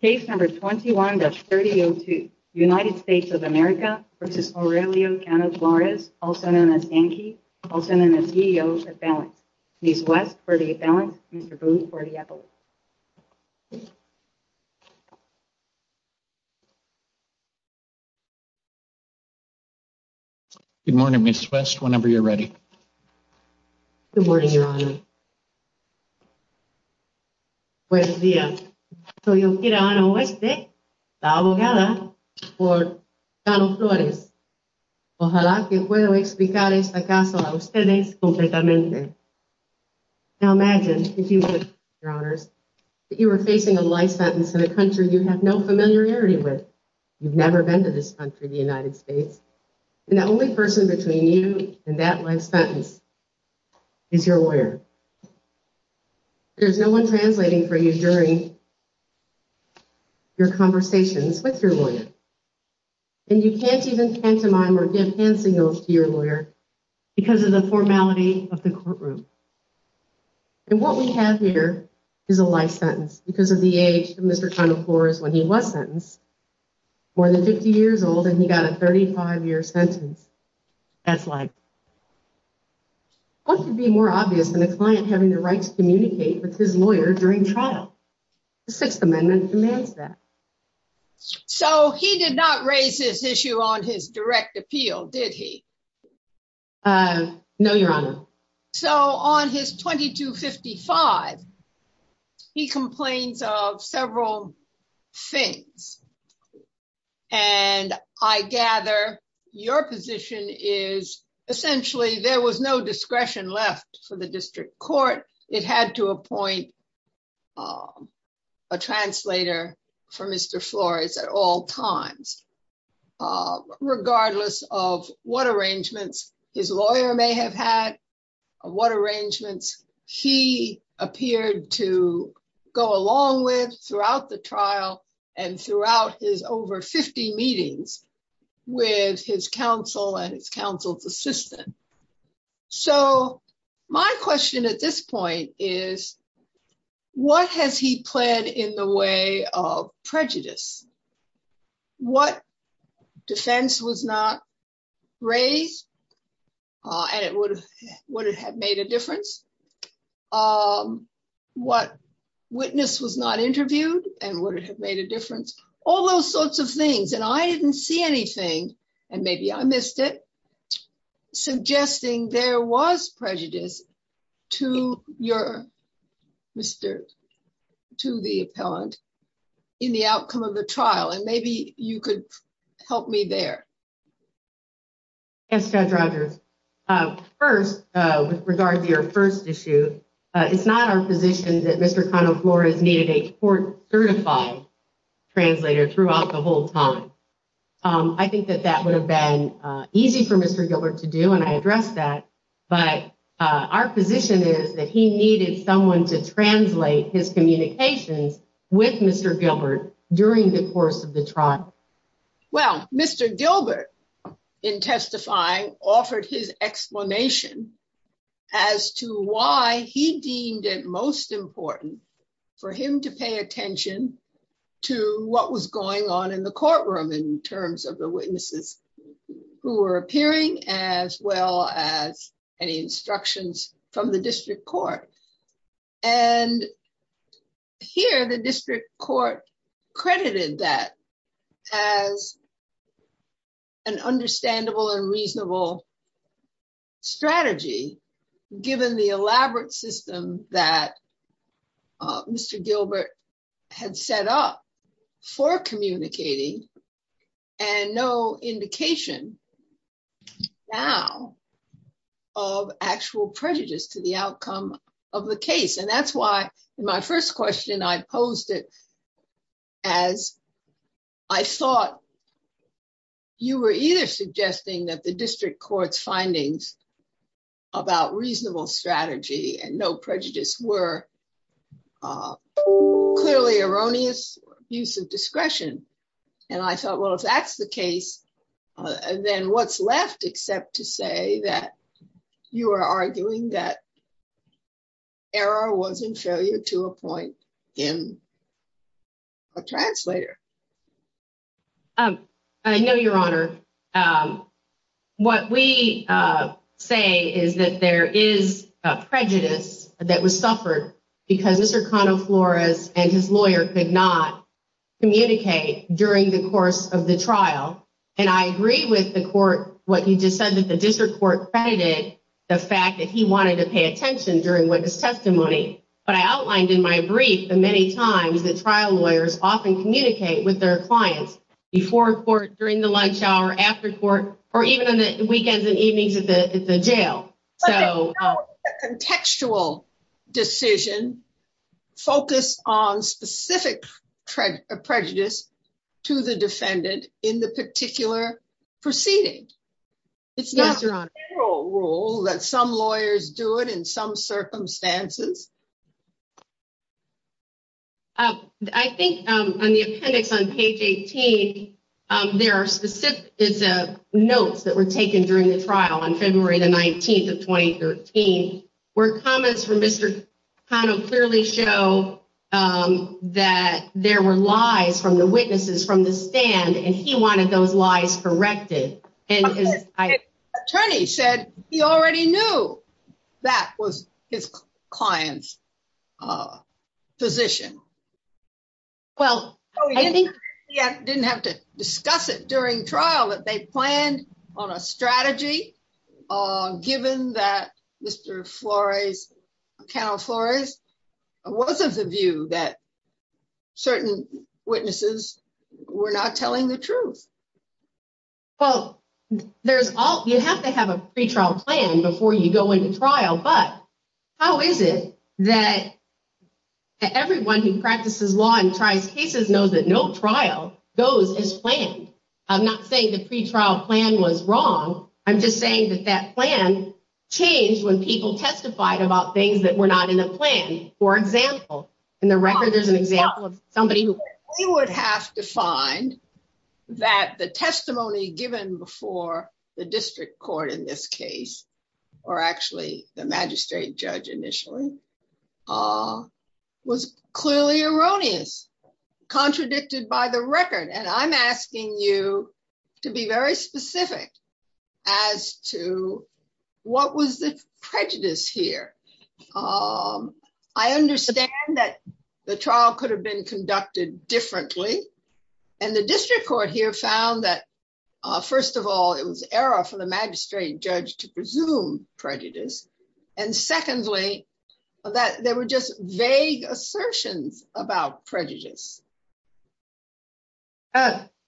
also known as Anki, also known as EO for balance. Ms. West, for the balance. Mr. Boone, for the equivalent. Good morning, Ms. West, whenever you're ready. Good morning, Your Honor. Good morning. Good morning. I am Okira Ana West, the lawyer for Mr. Cano-Flores. I hope I can explain this case to you completely. Now imagine, if you would, Your Honors, that you were facing a life sentence in a country you have no familiarity with. You've never been to this country, the United States. And the only person between you and that life sentence is your lawyer. There's no one translating for you during your conversations with your lawyer. And you can't even pantomime or give hand signals to your lawyer because of the formality of the courtroom. And what we have here is a life sentence because of the age of Mr. Cano-Flores when he was sentenced. More than 50 years old and he got a 35 year sentence. That's life. What could be more obvious than a client having the right to communicate with his lawyer during trial? The Sixth Amendment demands that. So he did not raise this issue on his direct appeal, did he? No, Your Honor. So on his 2255, he complains of several things. And I gather your position is essentially there was no discretion left for the district court. It had to appoint a translator for Mr. Flores at all times, regardless of what arrangements his lawyer may have had, what arrangements he appeared to go along with throughout the trial and throughout his over 50 meetings with his counsel and his counsel's assistant. So my question at this point is, what has he pled in the way of prejudice? What defense was not raised and it would have made a difference? What witness was not interviewed and would it have made a difference? All those sorts of things. And I didn't see anything. And maybe I missed it. Suggesting there was prejudice to your Mr. to the appellant in the outcome of the trial. And maybe you could help me there. Yes, Judge Rogers. First, with regard to your first issue, it's not our position that Mr. Flores needed a court certified translator throughout the whole time. I think that that would have been easy for Mr. Gilbert to do. And I address that. But our position is that he needed someone to translate his communications with Mr. Gilbert during the course of the trial. Well, Mr. Gilbert, in testifying, offered his explanation as to why he deemed it most important for him to pay attention to what was going on in the courtroom in terms of the witnesses who were appearing, as well as any instructions from the district court. And here the district court credited that as an understandable and reasonable strategy, given the elaborate system that Mr. Gilbert had set up for communicating and no indication now of actual prejudice to the outcome of the case. And that's why my first question I posed it as I thought you were either suggesting that the district court's findings about reasonable strategy and no prejudice were clearly erroneous use of discretion. And I thought, well, if that's the case, then what's left except to say that you are arguing that error was inferior to a point in a translator. I know, Your Honor, what we say is that there is a prejudice that was suffered because Mr. Flores and his lawyer did not communicate during the course of the trial. And I agree with the court what you just said that the district court credited the fact that he wanted to pay attention during witness testimony. But I outlined in my brief the many times that trial lawyers often communicate with their clients before court, during the lunch hour, after court, or even on the weekends and evenings at the jail. A contextual decision focused on specific prejudice to the defendant in the particular proceeding. It's not a federal rule that some lawyers do it in some circumstances. I think on the appendix on page 18, there are specific notes that were taken during the trial on February the 19th of 2013, where comments from Mr. Flores kind of clearly show that there were lies from the witnesses from the stand, and he wanted those lies corrected. Attorney said he already knew that was his client's position. Well, I didn't have to discuss it during trial that they planned on a strategy, given that Mr. Flores, Count Flores, was of the view that certain witnesses were not telling the truth. Well, you have to have a pretrial plan before you go into trial, but how is it that everyone who practices law and tries cases knows that no trial goes as planned? I'm not saying the pretrial plan was wrong. I'm just saying that that plan changed when people testified about things that were not in a plan. We would have to find that the testimony given before the district court in this case, or actually the magistrate judge initially, was clearly erroneous, contradicted by the record, and I'm asking you to be very specific as to what was the prejudice here. I understand that the trial could have been conducted differently, and the district court here found that, first of all, it was error for the magistrate judge to presume prejudice, and secondly, that there were just vague assertions about prejudice.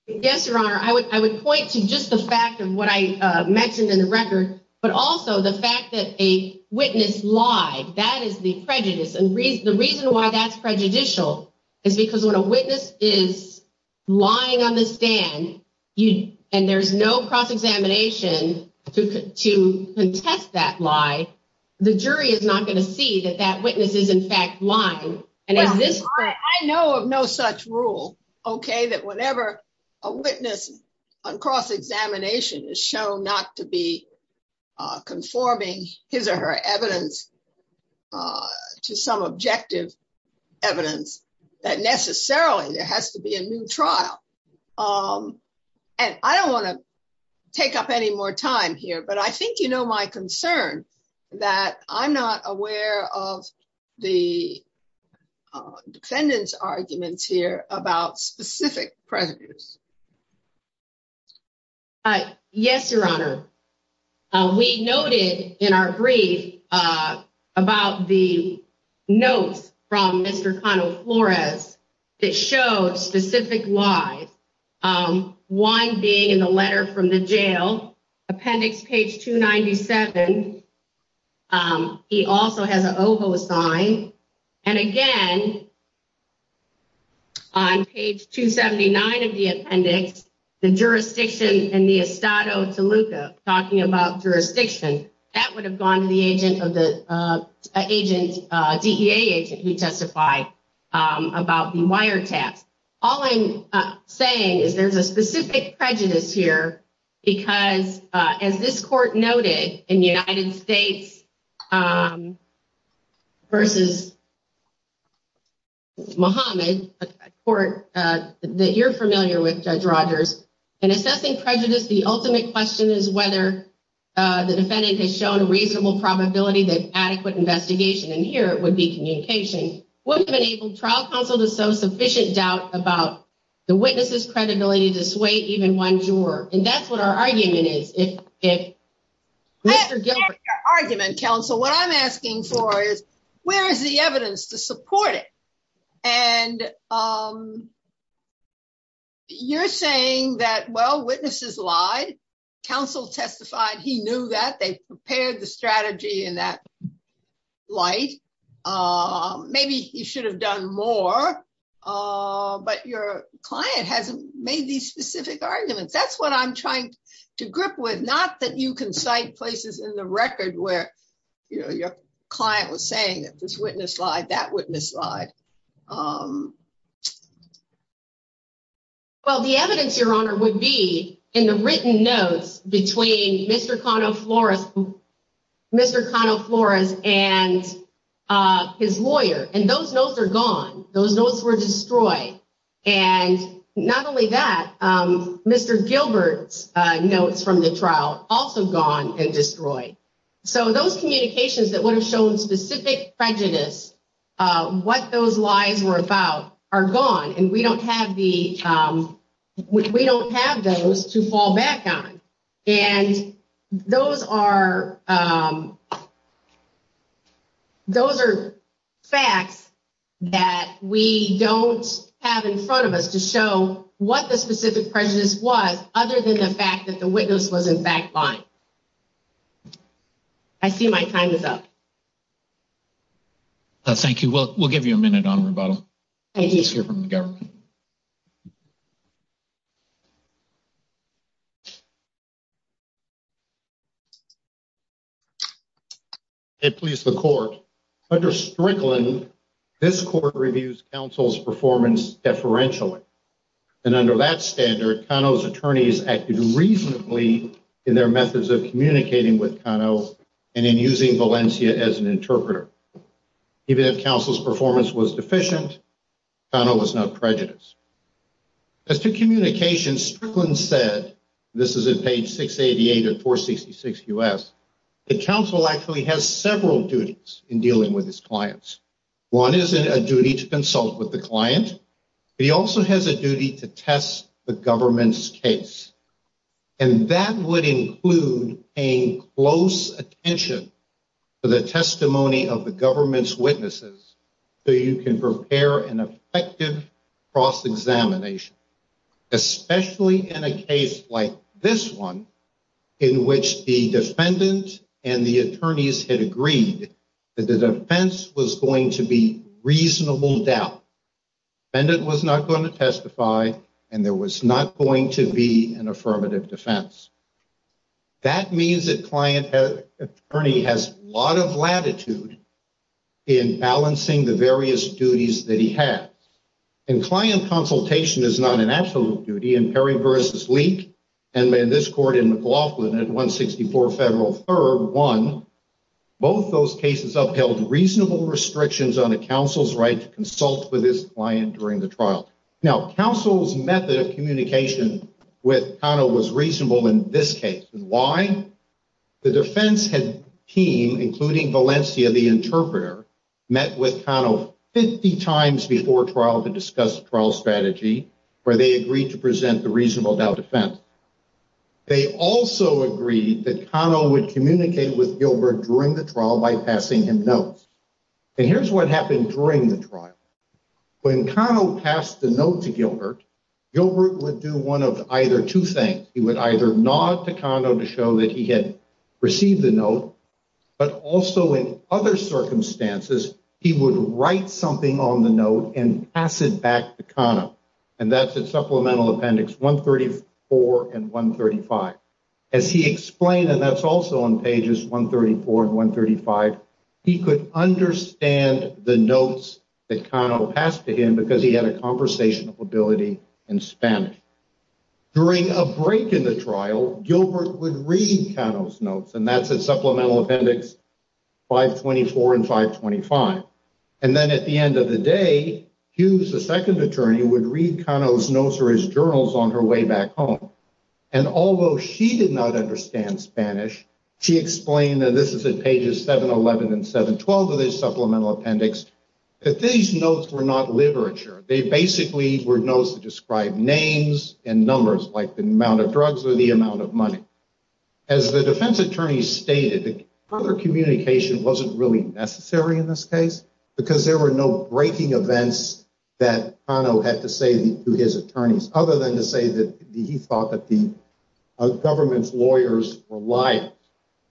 Yes, Your Honor, I would point to just the fact of what I mentioned in the record, but also the fact that a witness lied. That is the prejudice, and the reason why that's prejudicial is because when a witness is lying on the stand, and there's no cross-examination to contest that lie, the jury is not going to see that that witness is, in fact, lying. I know of no such rule, okay, that whenever a witness on cross-examination is shown not to be conforming his or her evidence to some objective evidence, that necessarily there has to be a new trial. And I don't want to take up any more time here, but I think you know my concern that I'm not aware of the defendant's arguments here about specific prejudice. Yes, Your Honor, we noted in our brief about the notes from Mr. Flores that showed specific lies, one being in the letter from the jail, appendix page 297. He also has an OVO sign, and again, on page 279 of the appendix, the jurisdiction in the Estado Toluca, talking about jurisdiction, that would have gone to the DEA agent who testified about the wiretaps. All I'm saying is there's a specific prejudice here because, as this court noted in the United States v. Mohammed, a court that you're familiar with, Judge Rogers, in assessing prejudice, the ultimate question is whether the defendant has shown a reasonable probability that adequate investigation, and here it would be communication, would have enabled trial counsel to sow sufficient doubt about the witness's credibility to sway even one juror. And that's what our argument is. Mr. Gilbert. In your argument, counsel, what I'm asking for is, where is the evidence to support it? And you're saying that, well, witnesses lied, counsel testified he knew that, they prepared the strategy in that light. Maybe you should have done more, but your client hasn't made these specific arguments. That's what I'm trying to grip with, not that you can cite places in the record where your client was saying that this witness lied, that witness lied. Well, the evidence, Your Honor, would be in the written notes between Mr. Flores and his lawyer, and those notes are gone. Those notes were destroyed. And not only that, Mr. Gilbert's notes from the trial, also gone and destroyed. So those communications that would have shown specific prejudice, what those lies were about, are gone. And we don't have those to fall back on. And those are facts that we don't have in front of us to show what the specific prejudice was, other than the fact that the witness was in fact lying. I see my time is up. Thank you. We'll give you a minute on rebuttal. Thank you. Let's hear from the government. Okay, please, the court. Under Strickland, this court reviews counsel's performance deferentially. And under that standard, Kano's attorneys acted reasonably in their methods of communicating with Kano and in using Valencia as an interpreter. Even if counsel's performance was deficient, Kano was not prejudiced. As to communications, Strickland said, this is in page 688 of 466 U.S., that counsel actually has several duties in dealing with his clients. One is a duty to consult with the client. He also has a duty to test the government's case. And that would include paying close attention to the testimony of the government's witnesses so you can prepare an effective cross-examination, especially in a case like this one, in which the defendant and the attorneys had agreed that the defense was going to be reasonable doubt. The defendant was not going to testify, and there was not going to be an affirmative defense. That means that client attorney has a lot of latitude in balancing the various duties that he has. And client consultation is not an absolute duty. And in this court in McLaughlin, at 164 Federal 3rd, 1, both those cases upheld reasonable restrictions on a counsel's right to consult with his client during the trial. Now, counsel's method of communication with Kano was reasonable in this case. And why? The defense team, including Valencia, the interpreter, met with Kano 50 times before trial to discuss the trial strategy, where they agreed to present the reasonable doubt defense. They also agreed that Kano would communicate with Gilbert during the trial by passing him notes. And here's what happened during the trial. When Kano passed the note to Gilbert, Gilbert would do one of either two things. He would either nod to Kano to show that he had received the note, but also in other circumstances, he would write something on the note and pass it back to Kano. And that's at supplemental appendix 134 and 135. As he explained, and that's also on pages 134 and 135, he could understand the notes that Kano passed to him because he had a conversational ability in Spanish. During a break in the trial, Gilbert would read Kano's notes, and that's at supplemental appendix 524 and 525. And then at the end of the day, Hughes, the second attorney, would read Kano's notes or his journals on her way back home. And although she did not understand Spanish, she explained that this is at pages 711 and 712 of the supplemental appendix, that these notes were not literature. They basically were notes that described names and numbers, like the amount of drugs or the amount of money. As the defense attorney stated, further communication wasn't really necessary in this case because there were no breaking events that Kano had to say to his attorneys, other than to say that he thought that the government's lawyers were liars.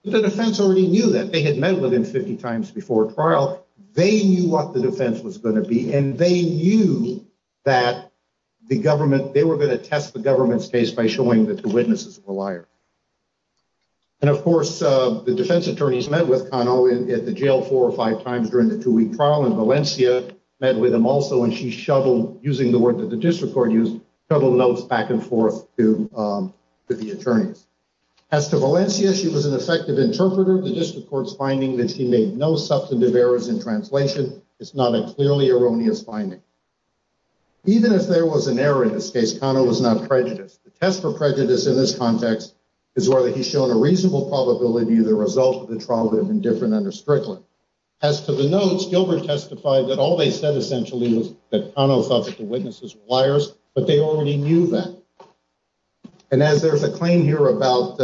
But the defense already knew that. They had met with him 50 times before trial. They knew what the defense was going to be, and they knew that they were going to test the government's case by showing that the witnesses were liars. And, of course, the defense attorneys met with Kano at the jail four or five times during the two-week trial, and Valencia met with him also, and she shuttled, using the word that the district court used, shuttled notes back and forth to the attorneys. As to Valencia, she was an effective interpreter. The district court's finding that she made no substantive errors in translation is not a clearly erroneous finding. Even if there was an error in this case, Kano was not prejudiced. The test for prejudice in this context is whether he's shown a reasonable probability that the result of the trial would have been different under Strickland. As to the notes, Gilbert testified that all they said, essentially, was that Kano thought that the witnesses were liars, but they already knew that. And as there's a claim here about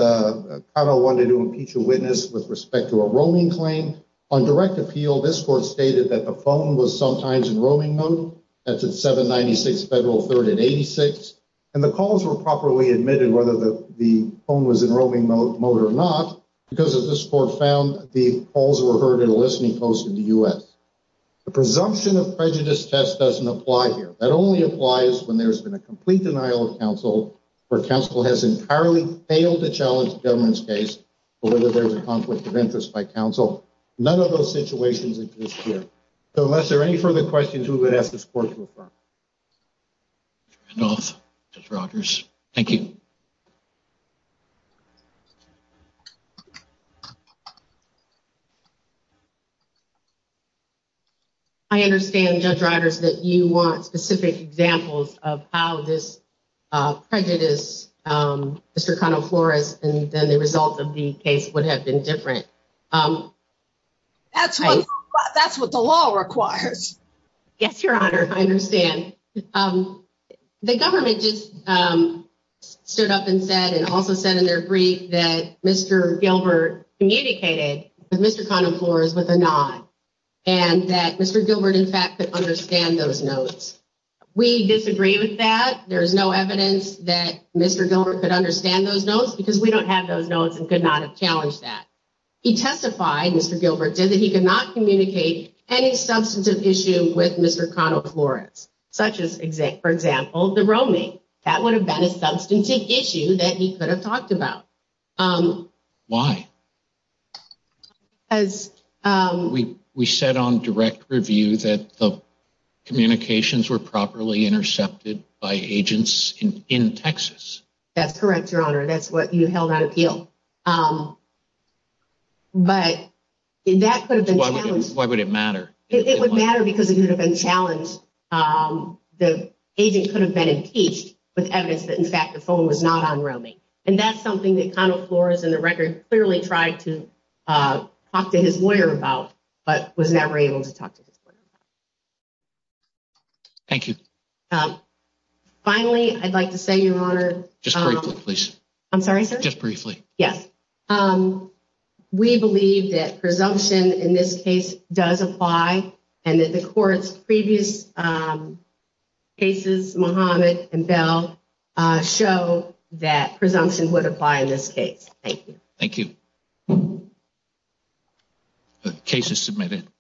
Kano wanting to impeach a witness with respect to a roaming claim, on direct appeal, this court stated that the phone was sometimes in roaming mode. That's at 796 Federal 3rd and 86. And the calls were properly admitted whether the phone was in roaming mode or not, because as this court found, the calls were heard in a listening post in the U.S. The presumption of prejudice test doesn't apply here. That only applies when there's been a complete denial of counsel, where counsel has entirely failed to challenge the government's case, or whether there's a conflict of interest by counsel. None of those situations exist here. So unless there are any further questions, we would ask this court to affirm. Judge Rogers, thank you. I understand, Judge Rogers, that you want specific examples of how this prejudice, Mr. Kano Flores, and then the result of the case would have been different. That's what the law requires. Yes, Your Honor, I understand. The government just stood up and said, and also said in their brief that Mr. Gilbert communicated with Mr. Kano Flores with a nod. And that Mr. Gilbert, in fact, could understand those notes. We disagree with that. There is no evidence that Mr. Gilbert could understand those notes because we don't have those notes and could not have challenged that. He testified, Mr. Gilbert, that he could not communicate any substantive issue with Mr. Kano Flores, such as, for example, the roaming. That would have been a substantive issue that he could have talked about. Why? We said on direct review that the communications were properly intercepted by agents in Texas. That's correct, Your Honor. That's what you held on appeal. But that could have been challenged. Why would it matter? It would matter because it would have been challenged. The agent could have been impeached with evidence that, in fact, the phone was not on roaming. And that's something that Kano Flores, in the record, clearly tried to talk to his lawyer about, but was never able to talk to his lawyer about. Thank you. Finally, I'd like to say, Your Honor. Just briefly, please. I'm sorry, sir? Just briefly. Yes. We believe that presumption in this case does apply and that the court's previous cases, Mohammed and Bell, show that presumption would apply in this case. Thank you. Thank you. The case is submitted.